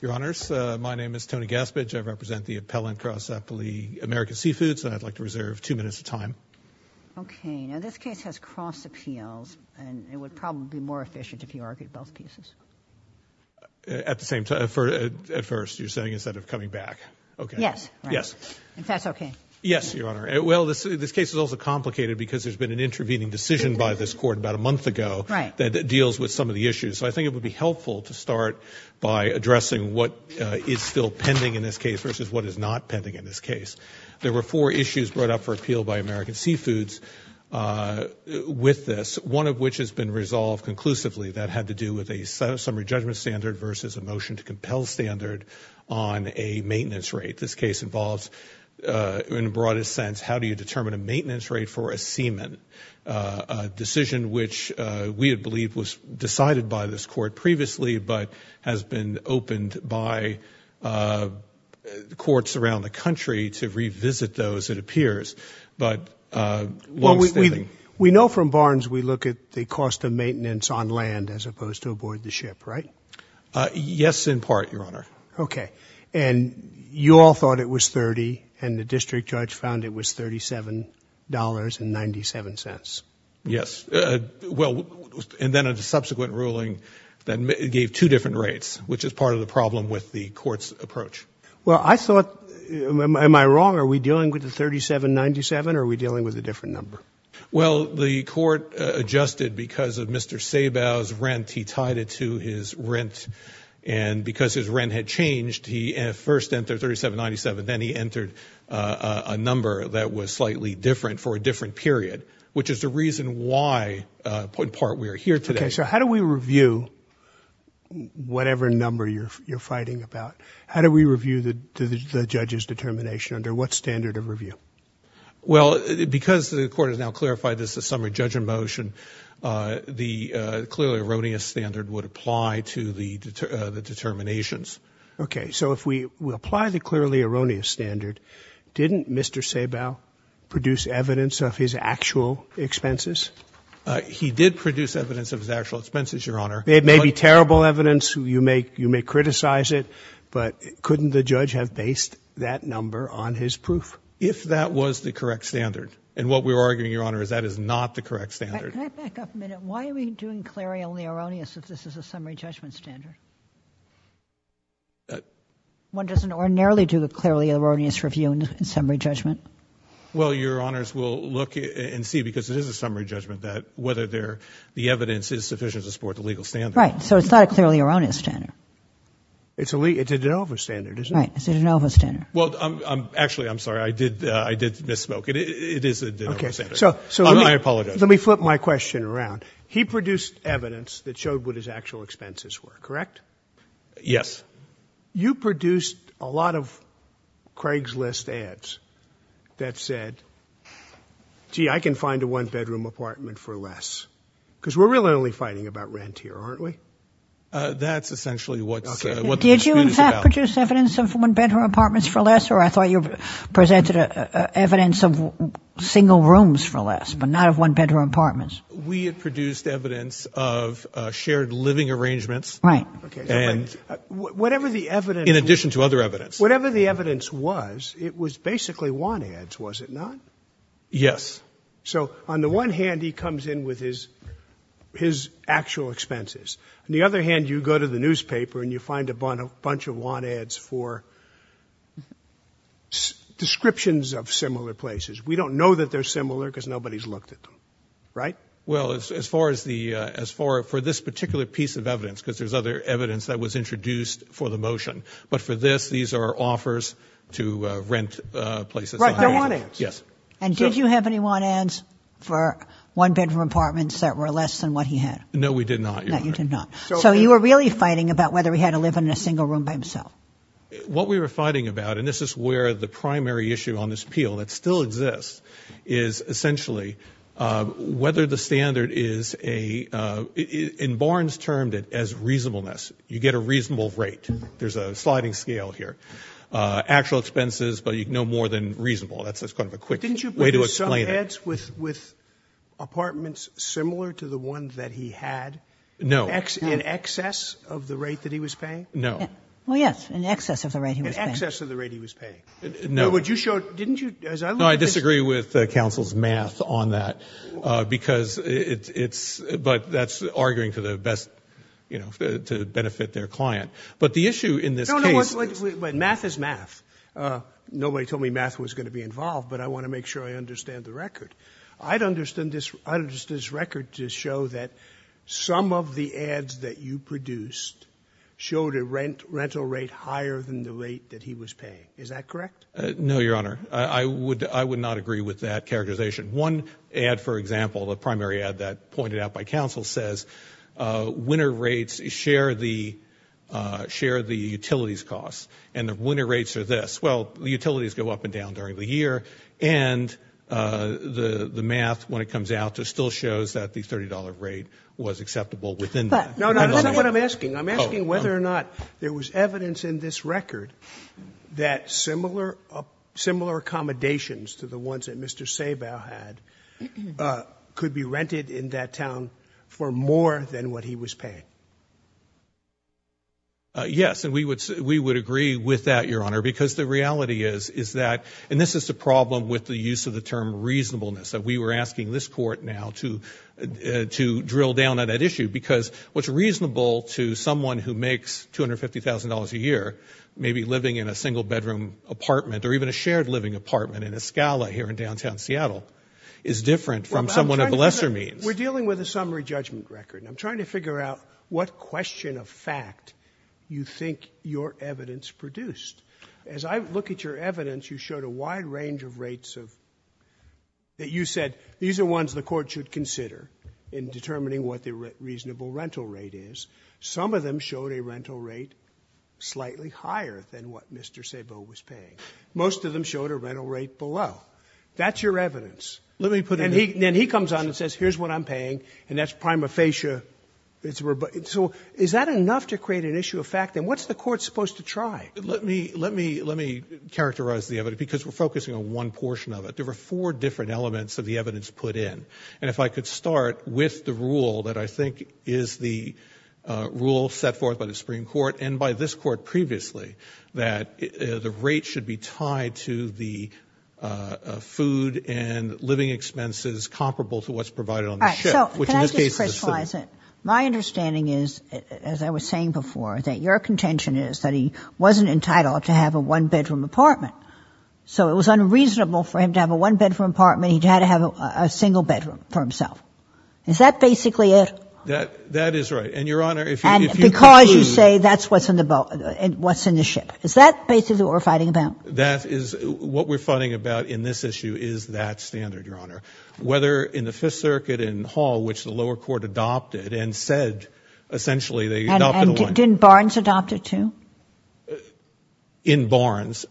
Your Honors, my name is Tony Gaspage. I represent the appellant Cross Appellee American Seafoods and I'd like to reserve two minutes of time. Okay, now this case has cross appeals and it would probably be more efficient if you argued both pieces. At the same time, at first, you're saying instead of coming back. Okay. Yes. Yes. If that's okay. Yes, Your Honor. Well, this case is also complicated because there's been an intervening decision by this court about a month ago that deals with some of the issues. So I think it would be interesting to see what is still pending in this case versus what is not pending in this case. There were four issues brought up for appeal by American Seafoods with this, one of which has been resolved conclusively that had to do with a summary judgment standard versus a motion to compel standard on a maintenance rate. This case involves, in the broadest sense, how do you determine a maintenance rate for a seaman? A decision which we had believed was decided by this court previously but has been opened by the courts around the country to revisit those, it appears, but... We know from Barnes we look at the cost of maintenance on land as opposed to aboard the ship, right? Yes, in part, Your Honor. Okay, and you all thought it was 30 and the district judge found it was $37.97. Yes, well, and then a subsequent ruling that gave two different rates, which is part of the problem with the court's approach. Well, I thought, am I wrong? Are we dealing with the $37.97 or are we dealing with a different number? Well, the court adjusted because of Mr. Sabau's rent. He tied it to his rent and because his rent had changed, he first entered $37.97, then he entered a number that was slightly different for a different period, which is the reason why, in part, we are here today. Okay, so how do we review whatever number you're fighting about? How do we review the judge's determination under what standard of review? Well, because the court has now clarified this is a summary judgment motion, the clearly erroneous standard would apply to the determinations. Okay, so if we apply the clearly erroneous standard, didn't Mr. Sabau produce evidence of his actual expenses? He did produce evidence of his actual expenses, Your Honor. It may be terrible evidence, you may criticize it, but couldn't the judge have based that number on his proof? If that was the correct standard, and what we were arguing, Your Honor, is that is not the correct standard. Can I back up a minute? Why are we doing clearly erroneous if this is a summary judgment standard? One doesn't ordinarily do a clearly erroneous review in summary judgment. Well, Your Honors, we'll look and see, because it is a summary judgment, that whether the evidence is sufficient to support the legal standard. Right, so it's not a clearly erroneous standard. It's a de novo standard, isn't it? Right, it's a de novo standard. Well, actually, I'm sorry, I did misspoke. It is a de novo standard. Okay, so let me flip my question around. He produced evidence that showed what his actual expenses were, correct? Yes. You produced a lot of Craigslist ads that said, gee, I can find a one-bedroom apartment for less, because we're really only fighting about rent here, aren't we? That's essentially what the dispute is about. Did you, in fact, produce evidence of one-bedroom apartments for less, or I thought you presented evidence of single rooms for one-bedroom apartments. We had produced evidence of shared living arrangements. Right, okay, so whatever the evidence, in addition to other evidence, whatever the evidence was, it was basically want ads, was it not? Yes. So on the one hand, he comes in with his his actual expenses. On the other hand, you go to the newspaper and you find a bunch of want ads for descriptions of similar places. We don't know that they're Right? Well, as far as the, as far for this particular piece of evidence, because there's other evidence that was introduced for the motion, but for this these are offers to rent places. Right, they're want ads. Yes. And did you have any want ads for one-bedroom apartments that were less than what he had? No, we did not. No, you did not. So you were really fighting about whether he had to live in a single room by himself. What we were fighting about, and this is where the primary issue on this appeal that still exists, is essentially whether the standard is a, in Barnes termed it as reasonableness. You get a reasonable rate. There's a sliding scale here. Actual expenses, but you know more than reasonable. That's kind of a quick way to explain it. But didn't you put some ads with apartments similar to the one that he had? No. In excess of the rate that he was paying? No. Well, yes, in excess of the rate he was paying. No. What you showed, didn't you? No, I disagree with the counsel's math on that, because it's, but that's arguing for the best, you know, to benefit their client. But the issue in this case. No, no, math is math. Nobody told me math was going to be involved, but I want to make sure I understand the record. I'd understand this, I'd understand this record to show that some of the ads that you is that correct? No, your honor. I would, I would not agree with that characterization. One ad, for example, the primary ad that pointed out by counsel says, uh, winter rates share the, uh, share the utilities costs and the winter rates are this. Well, the utilities go up and down during the year. And, uh, the, the math, when it comes out to still shows that the $30 rate was acceptable within that. No, no, that's not what I'm asking. I'm asking whether or not there was evidence in this record that similar, uh, similar accommodations to the ones that Mr. Sabau had, uh, could be rented in that town for more than what he was paying. Uh, yes. And we would, we would agree with that, your honor, because the reality is, is that, and this is the problem with the use of the term reasonableness that we were asking this court now to, uh, to drill down on that issue, because what's reasonable to someone who makes $250,000 a year, maybe living in a single bedroom apartment or even a shared living apartment in Escala here in downtown Seattle is different from someone of lesser means. We're dealing with a summary judgment record and I'm trying to figure out what question of fact you think your evidence produced. As I look at your evidence, you showed a wide range of rates of, that you said, these are ones the court should consider in determining what the reasonable rental rate is. Some of them showed a rental rate slightly higher than what Mr. Sabau was paying. Most of them showed a rental rate below. That's your evidence. Let me put it in. And he, then he comes on and says, here's what I'm paying and that's prima facie. It's where, so is that enough to create an issue of fact? And what's the court supposed to try? Let me, let me, let me characterize the evidence because we're focusing on one portion of it. There were four different elements of the evidence put in. And if I could start with the rule that I think is the rule set forth by the Supreme Court and by this court previously, that the rate should be tied to the food and living expenses comparable to what's provided on the ship. Which in this case is a citizen. My understanding is, as I was saying before, that your contention is that he wasn't entitled to have a one-bedroom apartment. So it was a single bedroom for himself. Is that basically it? That, that is right. And your Honor, if you, if you. And because you say that's what's in the boat, what's in the ship. Is that basically what we're fighting about? That is what we're fighting about in this issue is that standard, your Honor. Whether in the Fifth Circuit and Hall, which the lower court adopted and said, essentially, they're not going to want. And didn't Barnes adopt it too? In Barnes?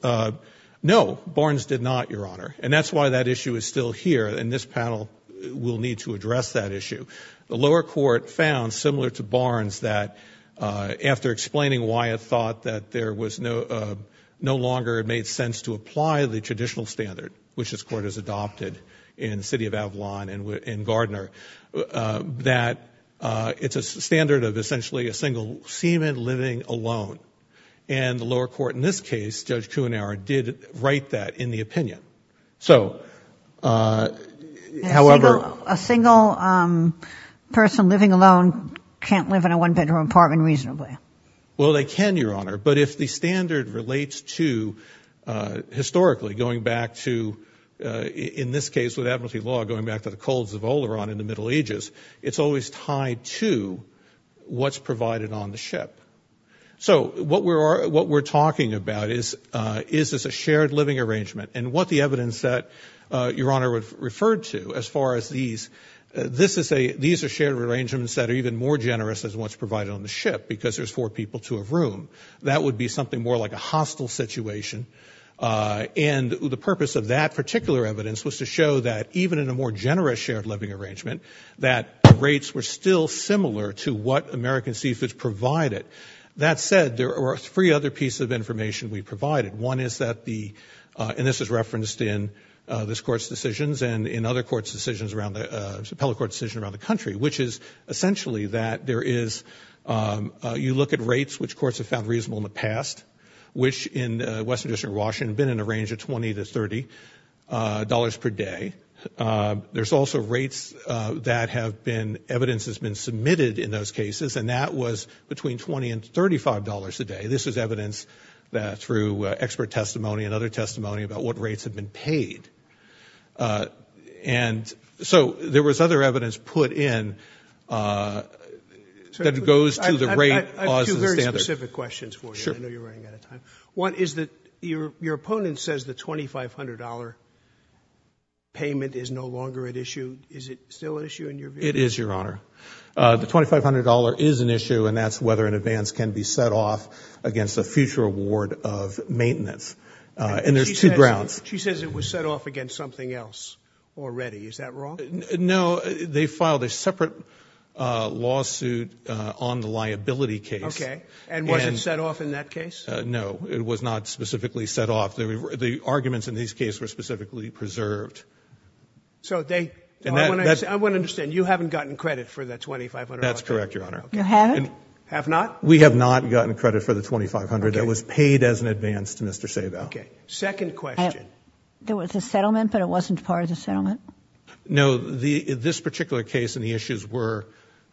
No, Barnes did not, your Honor. And that's why that issue is still here. And this panel will need to address that issue. The lower court found, similar to Barnes, that after explaining why it thought that there was no, no longer it made sense to apply the traditional standard, which this court has adopted in the city of Avalon and in Gardner, that it's a standard of essentially a single seaman living alone. And the lower court in this case, Judge Kuhnauer, did write that in the opinion. So, however. A single person living alone can't live in a one-bedroom apartment reasonably. Well, they can, your Honor. But if the standard relates to, historically, going back to, in this case with advocacy law, going back to the colds of Oleron in the Middle Ages, it's always tied to what's provided on the ship. So what we're, what we're talking about is, is this a shared living arrangement? And what the evidence that, your Honor, would refer to as far as these, this is a, these are shared arrangements that are even more generous as what's provided on the ship, because there's four people to a room. That would be something more like a hostile situation. And the purpose of that particular evidence was to show that even in a more generous shared living arrangement, that rates were still similar to what American Seafoods provided. That said, there are three other pieces of information we provided. One is that the, and this is referenced in this Court's decisions and in other courts' decisions around the, appellate court's decision around the country, which is essentially that there is, you look at rates which courts have found reasonable in the past, which in Western District of Washington have been in a range of 20 to 30 dollars per day. There's also rates that have been, evidence has been submitted in those cases, and that was between 20 and 35 dollars a day. This is evidence that through expert testimony and other testimony about what rates have been paid. And so, there was other evidence put in that goes to the rate laws and standards. I have two very specific questions for you. I know you're running out of time. One is that your, your opponent says the $2,500 payment is no longer at issue. Is it still at issue in your view? It is, Your Honor. The $2,500 is an issue, and that's whether an advance can be set off against a future award of maintenance. And there's two grounds. She says it was set off against something else already. Is that wrong? No, they filed a separate lawsuit on the liability case. Okay. And was it set off in that case? No, it was not specifically set off. The arguments in these cases were specifically preserved. So, they, I want to understand, you haven't gotten credit for that $2,500? That's correct, Your Honor. You haven't? Have not? We have not gotten credit for the $2,500 that was paid as an advance to Mr. Sabo. Okay. Second question. There was a settlement, but it wasn't part of the settlement? No, this particular case and the issues were,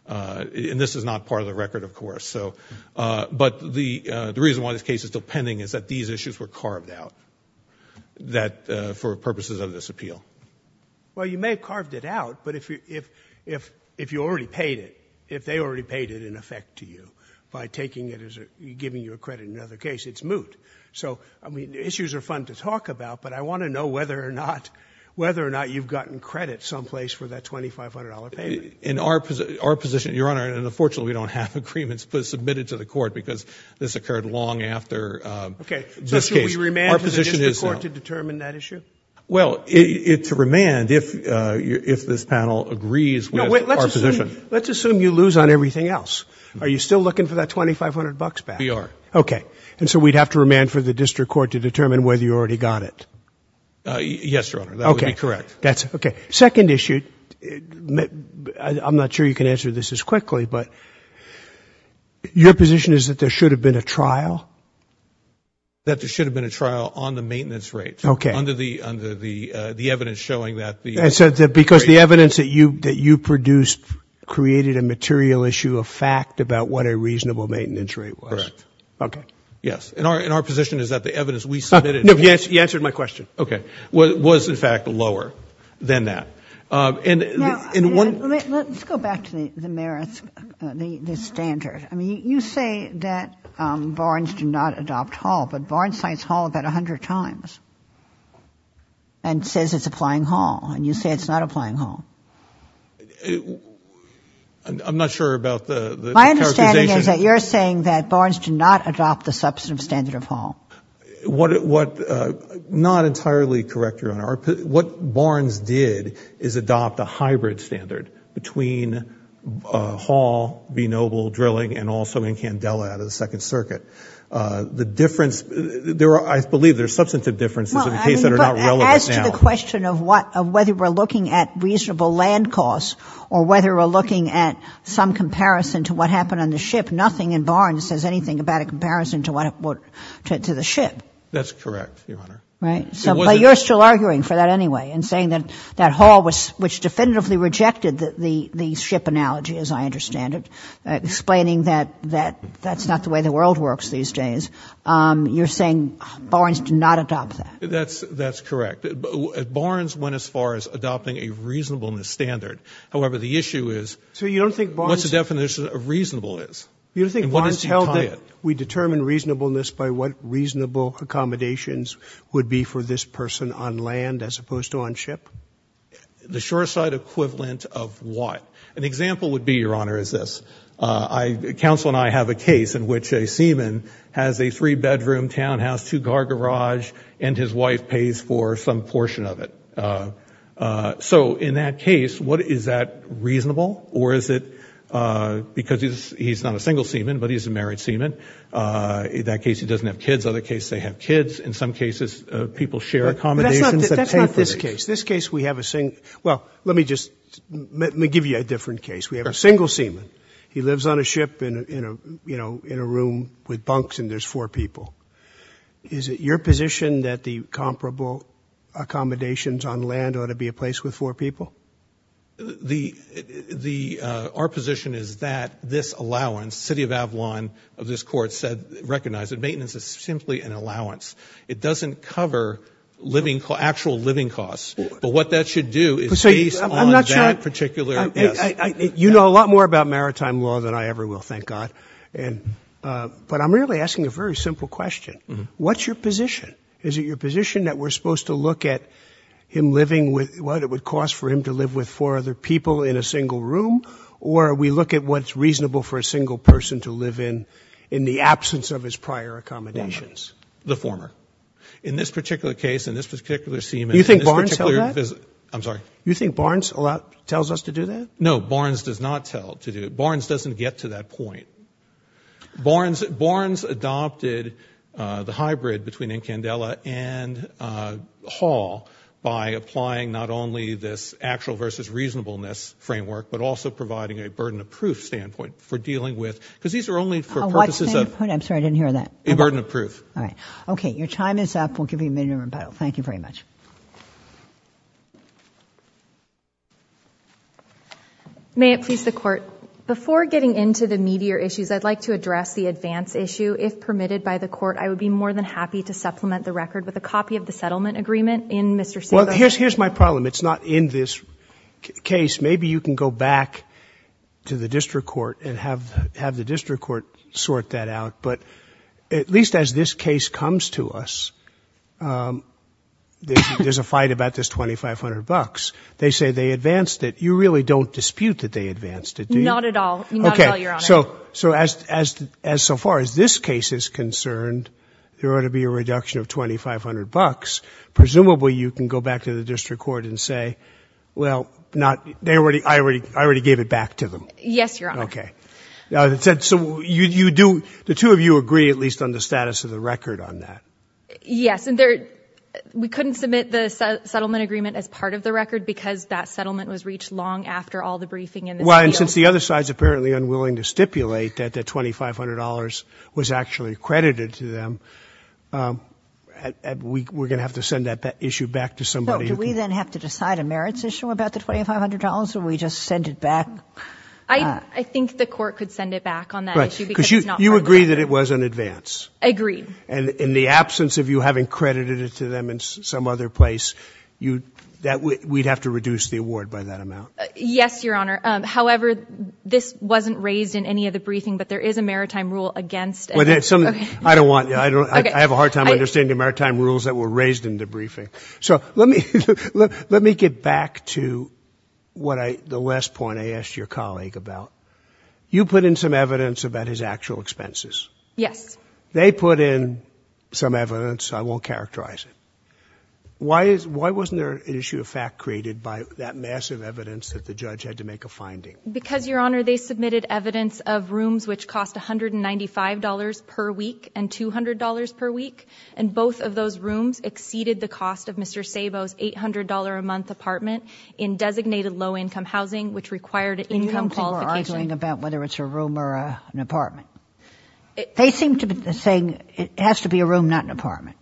and this is not part of the record, of course, so, but the reason why this case is still pending is that these issues were carved out. That, for purposes of this appeal. Well, you may have carved it out, but if you already paid it, if they already paid it in effect to you, by taking it as giving you a credit in another case, it's moot. So, I mean, issues are fun to talk about, but I want to know whether or not you've gotten credit someplace for that $2,500 payment. In our position, Your Honor, and unfortunately we don't have agreements submitted to the court because this occurred long after this case. Are we remanded to the district court to determine that issue? Well, it's a remand if this panel agrees with our position. Let's assume you lose on everything else. Are you still looking for that $2,500 back? We are. Okay. And so we'd have to remand for the district court to determine whether you already got it? Yes, Your Honor. Okay. That would be correct. Okay. Second issue, I'm not sure you can answer this as quickly, but your position is that there should have been a trial? That there should have been a trial on the maintenance rate. Okay. Under the evidence showing that the rate was. Because the evidence that you produced created a material issue of fact about what a reasonable maintenance rate was. Correct. Okay. Yes. And our position is that the evidence we submitted. No, you answered my question. Okay. Was, in fact, lower than that. Now, let's go back to the merits, the standard. I mean, you say that Barnes did not adopt Hall, but Barnes cites Hall about 100 times. And says it's applying Hall. And you say it's not applying Hall. I'm not sure about the characterization. My understanding is that you're saying that Barnes did not adopt the substantive standard of Hall. Not entirely correct, Your Honor. What Barnes did is adopt a hybrid standard between Hall, B. Noble drilling, and also Incandela out of the Second Circuit. The difference, I believe there are substantive differences in the case that are not relevant now. As to the question of whether we're looking at reasonable land costs or whether we're looking at some comparison to what happened on the ship, nothing in Barnes says anything about a comparison to the ship. That's correct, Your Honor. Right? But you're still arguing for that anyway and saying that Hall, which definitively rejected the ship analogy, as I understand it, explaining that that's not the way the world works these days. You're saying Barnes did not adopt that. That's correct. Barnes went as far as adopting a reasonableness standard. However, the issue is what's the definition of reasonable is? Do you think Barnes held that we determine reasonableness by what reasonable accommodations would be for this person on land as opposed to on ship? The shore side equivalent of what? An example would be, Your Honor, is this. Counsel and I have a case in which a seaman has a three-bedroom townhouse, two-car garage, and his wife pays for some portion of it. So in that case, is that reasonable or is it because he's not a single seaman but he's a married seaman? In that case, he doesn't have kids. Other cases, they have kids. In some cases, people share accommodations that pay for it. That's not this case. This case, we have a single – well, let me just – let me give you a different case. We have a single seaman. He lives on a ship in a room with bunks and there's four people. Is it your position that the comparable accommodations on land ought to be a place with four people? Our position is that this allowance, city of Avalon of this court said – recognized that maintenance is simply an allowance. It doesn't cover living – actual living costs. But what that should do is based on that particular – You know a lot more about maritime law than I ever will, thank God. But I'm really asking a very simple question. What's your position? Is it your position that we're supposed to look at him living with – what it would cost for him to live with four other people in a single room or we look at what's reasonable for a single person to live in in the absence of his prior accommodations? The former. In this particular case, in this particular seaman – Do you think Barnes held that? I'm sorry. Do you think Barnes tells us to do that? No, Barnes does not tell to do it. Barnes adopted the hybrid between Incandela and Hall by applying not only this actual versus reasonableness framework but also providing a burden of proof standpoint for dealing with – because these are only for purposes of – Oh, what standpoint? I'm sorry, I didn't hear that. A burden of proof. All right. Okay, your time is up. We'll give you a minute to rebuttal. Thank you very much. May it please the court. Before getting into the meatier issues, I'd like to address the advance issue. If permitted by the court, I would be more than happy to supplement the record with a copy of the settlement agreement in Mr. Silva. Well, here's my problem. It's not in this case. Maybe you can go back to the district court and have the district court sort that out. But at least as this case comes to us, there's a fight about this $2,500. They say they advanced it. You really don't dispute that they advanced it, do you? Not at all. Not at all, Your Honor. Okay, so as so far as this case is concerned, there ought to be a reduction of $2,500. Presumably you can go back to the district court and say, well, I already gave it back to them. Yes, Your Honor. Okay. So the two of you agree at least on the status of the record on that? Yes, and we couldn't submit the settlement agreement as part of the record because that settlement was reached long after all the briefing in this field. Well, and since the other side is apparently unwilling to stipulate that the $2,500 was actually credited to them, we're going to have to send that issue back to somebody. Do we then have to decide a merits issue about the $2,500, or do we just send it back? I think the court could send it back on that issue because it's not part of the record. You agree that it was an advance? Agreed. And in the absence of you having credited it to them in some other place, we'd have to reduce the award by that amount? Yes, Your Honor. However, this wasn't raised in any of the briefing, but there is a maritime rule against it. I have a hard time understanding the maritime rules that were raised in the briefing. So let me get back to the last point I asked your colleague about. You put in some evidence about his actual expenses. Yes. They put in some evidence. I won't characterize it. Why wasn't there an issue of fact created by that massive evidence that the judge had to make a finding? Because, Your Honor, they submitted evidence of rooms which cost $195 per week and $200 per week, and both of those rooms exceeded the cost of Mr. Sabo's $800-a-month apartment in designated low-income housing, which required an income qualification. You were arguing about whether it's a room or an apartment. They seem to be saying it has to be a room, not an apartment.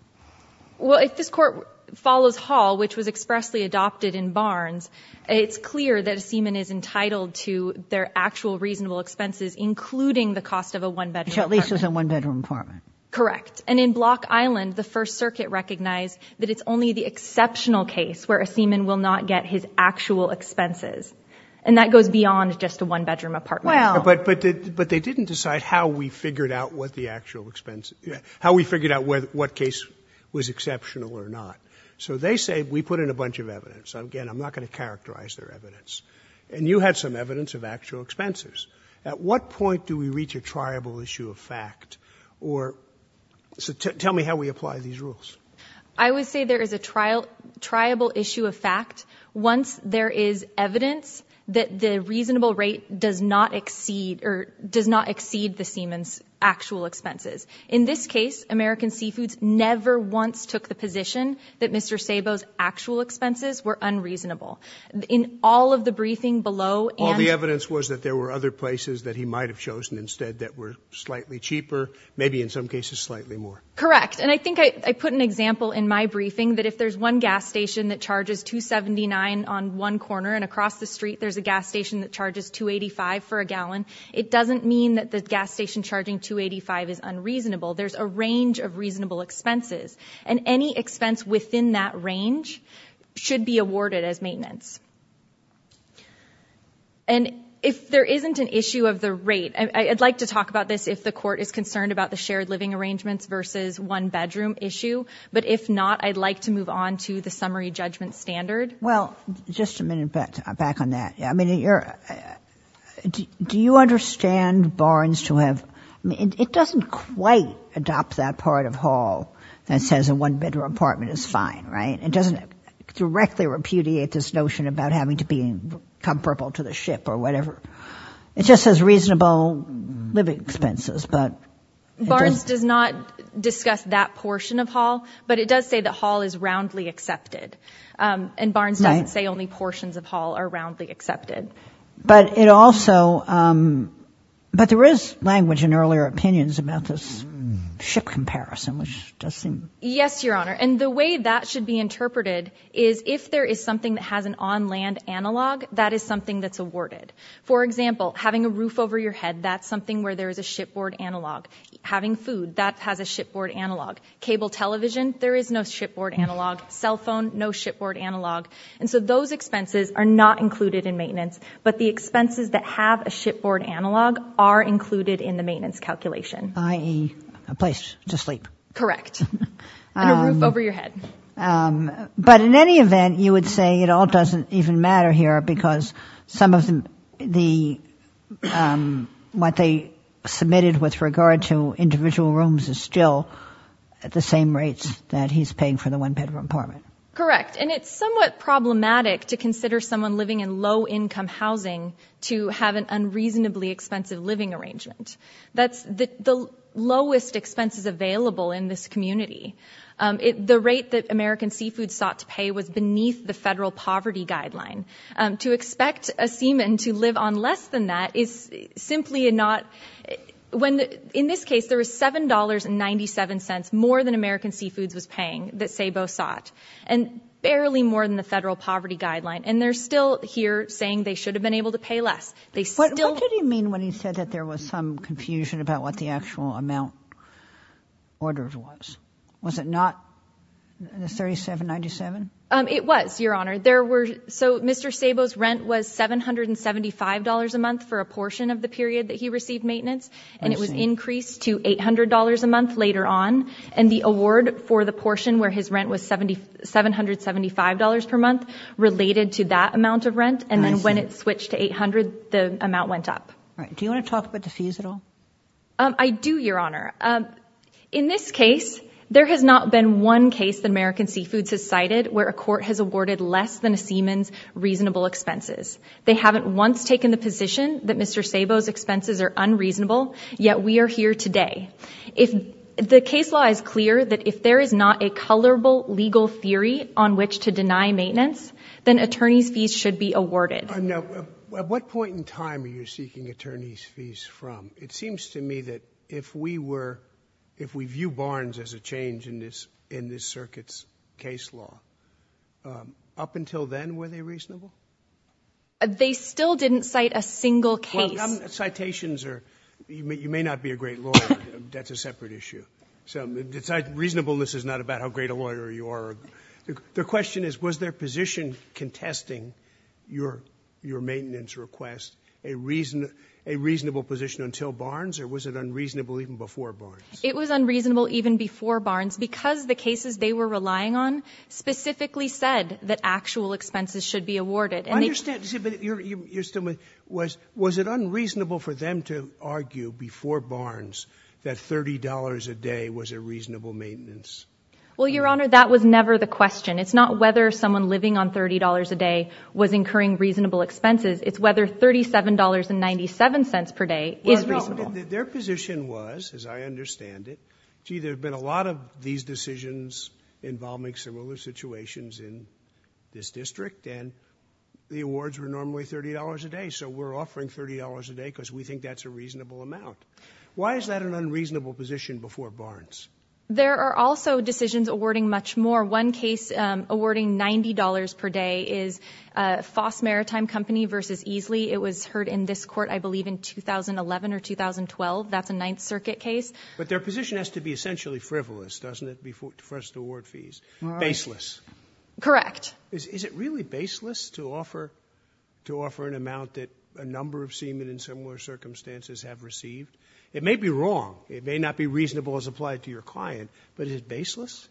Well, if this Court follows Hall, which was expressly adopted in Barnes, it's clear that a seaman is entitled to their actual reasonable expenses, including the cost of a one-bedroom apartment. Which at least is a one-bedroom apartment. Correct. And in Block Island, the First Circuit recognized that it's only the exceptional case where a seaman will not get his actual expenses, and that goes beyond just a one-bedroom apartment. But they didn't decide how we figured out what the actual expenses – how we figured out what case was exceptional or not. So they say we put in a bunch of evidence. Again, I'm not going to characterize their evidence. And you had some evidence of actual expenses. At what point do we reach a triable issue of fact? Or – so tell me how we apply these rules. I would say there is a triable issue of fact once there is evidence that the reasonable rate does not exceed – or does not exceed the seaman's actual expenses. In this case, American Seafoods never once took the position that Mr. Sabo's actual expenses were unreasonable. In all of the briefing below – All the evidence was that there were other places that he might have chosen instead that were slightly cheaper, maybe in some cases slightly more. Correct. And I think I put an example in my briefing that if there's one gas station that charges $2.79 on one corner, and across the street there's a gas station that charges $2.85 for a gallon, it doesn't mean that the gas station charging $2.85 is unreasonable. There's a range of reasonable expenses. And any expense within that range should be awarded as maintenance. And if there isn't an issue of the rate – I'd like to talk about this if the court is concerned about the shared living arrangements versus one-bedroom issue. But if not, I'd like to move on to the summary judgment standard. Well, just a minute back on that. I mean, do you understand Barnes to have – I mean, it doesn't quite adopt that part of Hall that says a one-bedroom apartment is fine, right? It doesn't directly repudiate this notion about having to be comfortable to the ship or whatever. It just says reasonable living expenses. Barnes does not discuss that portion of Hall, but it does say that Hall is roundly accepted. And Barnes doesn't say only portions of Hall are roundly accepted. But it also – but there is language in earlier opinions about this ship comparison, which does seem – Yes, Your Honor. And the way that should be interpreted is if there is something that has an on-land analog, that is something that's awarded. For example, having a roof over your head, that's something where there is a shipboard analog. Having food, that has a shipboard analog. Cable television, there is no shipboard analog. Cell phone, no shipboard analog. And so those expenses are not included in maintenance, but the expenses that have a shipboard analog are included in the maintenance calculation. I.e., a place to sleep. Correct. And a roof over your head. But in any event, you would say it all doesn't even matter here because some of the – what they submitted with regard to individual rooms is still at the same rates that he's paying for the one-bedroom apartment. Correct. And it's somewhat problematic to consider someone living in low-income housing to have an unreasonably expensive living arrangement. That's the lowest expenses available in this community. The rate that American Seafoods sought to pay was beneath the federal poverty guideline. To expect a seaman to live on less than that is simply not – in this case, there was $7.97 more than American Seafoods was paying that SABO sought, and barely more than the federal poverty guideline. And they're still here saying they should have been able to pay less. What did he mean when he said that there was some confusion about what the actual amount ordered was? Was it not the $37.97? It was, Your Honor. There were – so Mr. SABO's rent was $775 a month for a portion of the period that he received maintenance, and it was increased to $800 a month later on. And the award for the portion where his rent was $775 per month related to that amount of rent. And then when it switched to $800, the amount went up. Do you want to talk about the fees at all? I do, Your Honor. In this case, there has not been one case that American Seafoods has cited where a court has awarded less than a seaman's reasonable expenses. They haven't once taken the position that Mr. SABO's expenses are unreasonable, yet we are here today. The case law is clear that if there is not a colorable legal theory on which to deny maintenance, then attorneys' fees should be awarded. Now, at what point in time are you seeking attorneys' fees from? It seems to me that if we were – if we view Barnes as a change in this circuit's case law, up until then, were they reasonable? They still didn't cite a single case. Well, some citations are – you may not be a great lawyer. That's a separate issue. Reasonableness is not about how great a lawyer you are. The question is, was their position contesting your maintenance request a reasonable position until Barnes, or was it unreasonable even before Barnes? It was unreasonable even before Barnes because the cases they were relying on specifically said that actual expenses should be awarded. I understand. Was it unreasonable for them to argue before Barnes that $30 a day was a reasonable maintenance? Well, Your Honor, that was never the question. It's not whether someone living on $30 a day was incurring reasonable expenses. It's whether $37.97 per day is reasonable. Well, their position was, as I understand it, gee, there have been a lot of these decisions involving similar situations in this district, and the awards were normally $30 a day, so we're offering $30 a day because we think that's a reasonable amount. Why is that an unreasonable position before Barnes? There are also decisions awarding much more. One case awarding $90 per day is Foss Maritime Company v. Easley. It was heard in this court, I believe, in 2011 or 2012. That's a Ninth Circuit case. But their position has to be essentially frivolous, doesn't it, to first award fees, baseless. Correct. Is it really baseless to offer an amount that a number of seamen in similar circumstances have received? It may be wrong. It may not be reasonable as applied to your client, but is it baseless?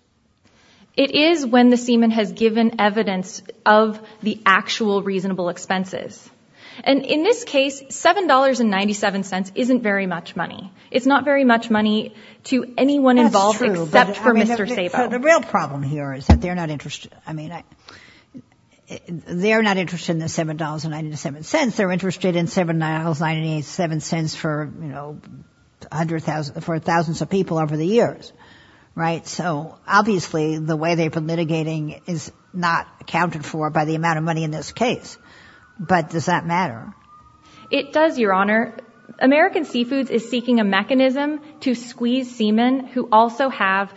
It is when the seaman has given evidence of the actual reasonable expenses. And in this case, $7.97 isn't very much money. It's not very much money to anyone involved except for Mr. Sabo. The real problem here is that they're not interested. I mean, they're not interested in the $7.97. They're interested in $7.97 for thousands of people over the years. So obviously the way they've been litigating is not accounted for by the amount of money in this case. But does that matter? It does, Your Honor. American Seafoods is seeking a mechanism to squeeze seamen who also have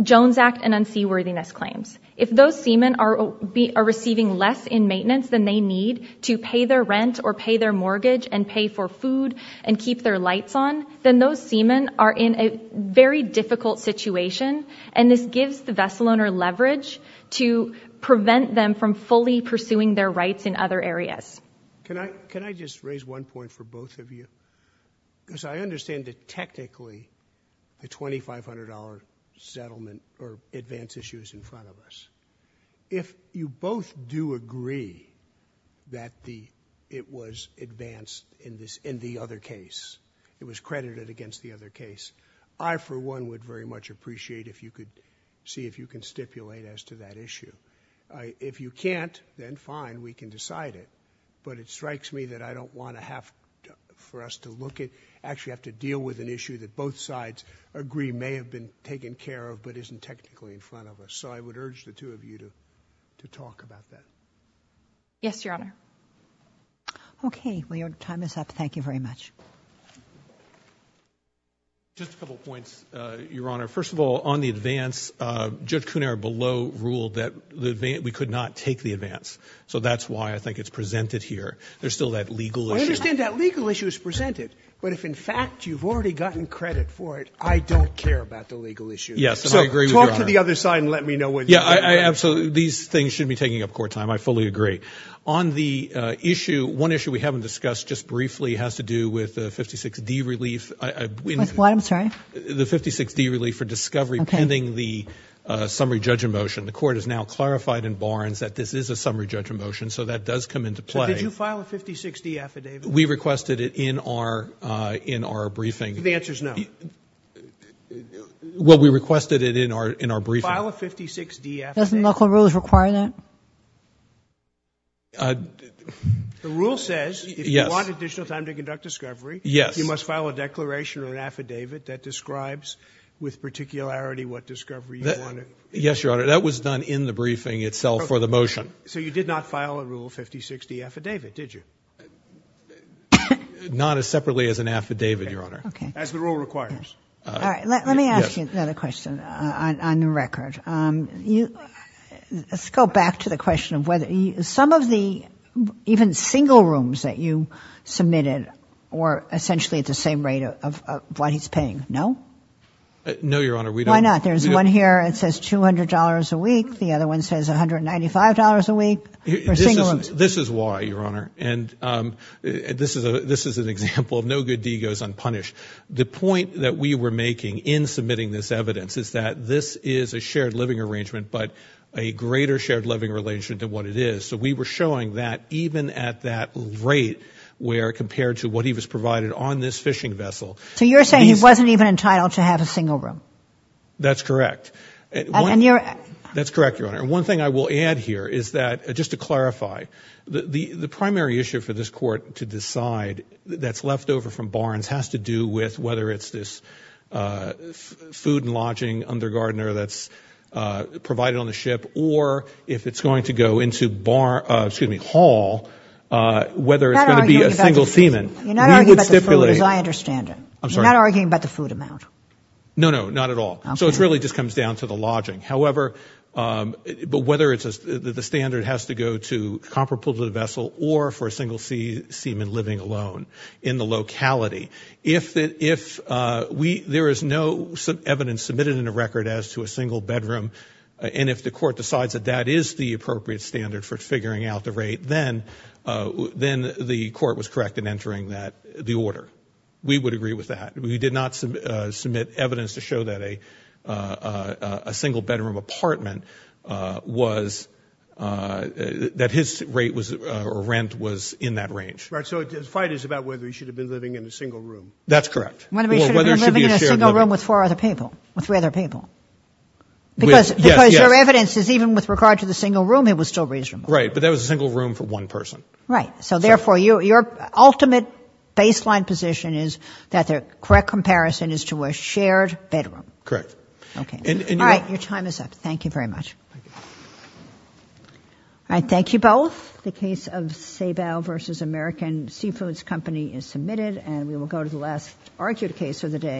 Jones Act and unseaworthiness claims. If those seamen are receiving less in maintenance than they need to pay their rent or pay their mortgage and pay for food and keep their lights on, then those seamen are in a very difficult situation, and this gives the vessel owner leverage to prevent them from fully pursuing their rights in other areas. Can I just raise one point for both of you? Because I understand that technically the $2,500 settlement or advance issue is in front of us. If you both do agree that it was advanced in the other case, it was credited against the other case, I for one would very much appreciate if you could see if you can stipulate as to that issue. If you can't, then fine, we can decide it. But it strikes me that I don't want to have for us to look at... actually have to deal with an issue that both sides agree may have been taken care of but isn't technically in front of us. So I would urge the two of you to talk about that. Yes, Your Honor. Okay. Well, your time is up. Thank you very much. Just a couple of points, Your Honor. First of all, on the advance, Judge Cunero below ruled that we could not take the advance. So that's why I think it's presented here. There's still that legal issue. I understand that legal issue is presented, but if in fact you've already gotten credit for it, I don't care about the legal issue. Yes, and I agree with Your Honor. Go to the other side and let me know what... Yeah, absolutely. These things should be taking up court time. I fully agree. On the issue, one issue we haven't discussed just briefly has to do with the 56D relief. With what? I'm sorry? The 56D relief for discovery pending the summary judgment motion. The Court has now clarified in Barnes that this is a summary judgment motion, so that does come into play. So did you file a 56D affidavit? We requested it in our briefing. The answer is no. Well, we requested it in our briefing. File a 56D affidavit. Doesn't local rules require that? The rule says... Yes.... if you want additional time to conduct discovery... Yes.... you must file a declaration or an affidavit that describes with particularity what discovery you wanted. Yes, Your Honor. That was done in the briefing itself for the motion. So you did not file a Rule 56D affidavit, did you? Not as separately as an affidavit, Your Honor. Okay. As the rule requires. All right. Let me ask you another question on the record. Let's go back to the question of whether some of the even single rooms that you submitted were essentially at the same rate of what he's paying. No? No, Your Honor. Why not? There's one here that says $200 a week. The other one says $195 a week for single rooms. This is why, Your Honor. This is an example of no good deed goes unpunished. The point that we were making in submitting this evidence is that this is a shared living arrangement, but a greater shared living arrangement than what it is. So we were showing that even at that rate where compared to what he was provided on this fishing vessel... So you're saying he wasn't even entitled to have a single room? That's correct. And you're... That's correct, Your Honor. One thing I will add here is that just to clarify, the primary issue for this court to decide that's left over from Barnes has to do with whether it's this food and lodging undergardener that's provided on the ship or if it's going to go into Hall, whether it's going to be a single seaman. You're not arguing about the food, as I understand it. I'm sorry? You're not arguing about the food amount. No, no, not at all. Okay. So it really just comes down to the lodging. However, whether the standard has to go to comparable to the vessel or for a single seaman living alone in the locality, if there is no evidence submitted in the record as to a single bedroom and if the court decides that that is the appropriate standard for figuring out the rate, then the court was correct in entering the order. We would agree with that. We did not submit evidence to show that a single bedroom apartment was, that his rate was, or rent was in that range. Right. So the fight is about whether he should have been living in a single room. That's correct. Whether he should have been living in a single room with four other people, with three other people. Because your evidence is even with regard to the single room, it was still reasonable. Right. But that was a single room for one person. Right. So therefore, your ultimate baseline position is that the correct comparison is to a shared bedroom. Correct. Okay. All right. Your time is up. Thank you very much. Thank you. All right. Thank you both. The case of Sabal v. American Seafoods Company is submitted and we will go to the last argued case of the day.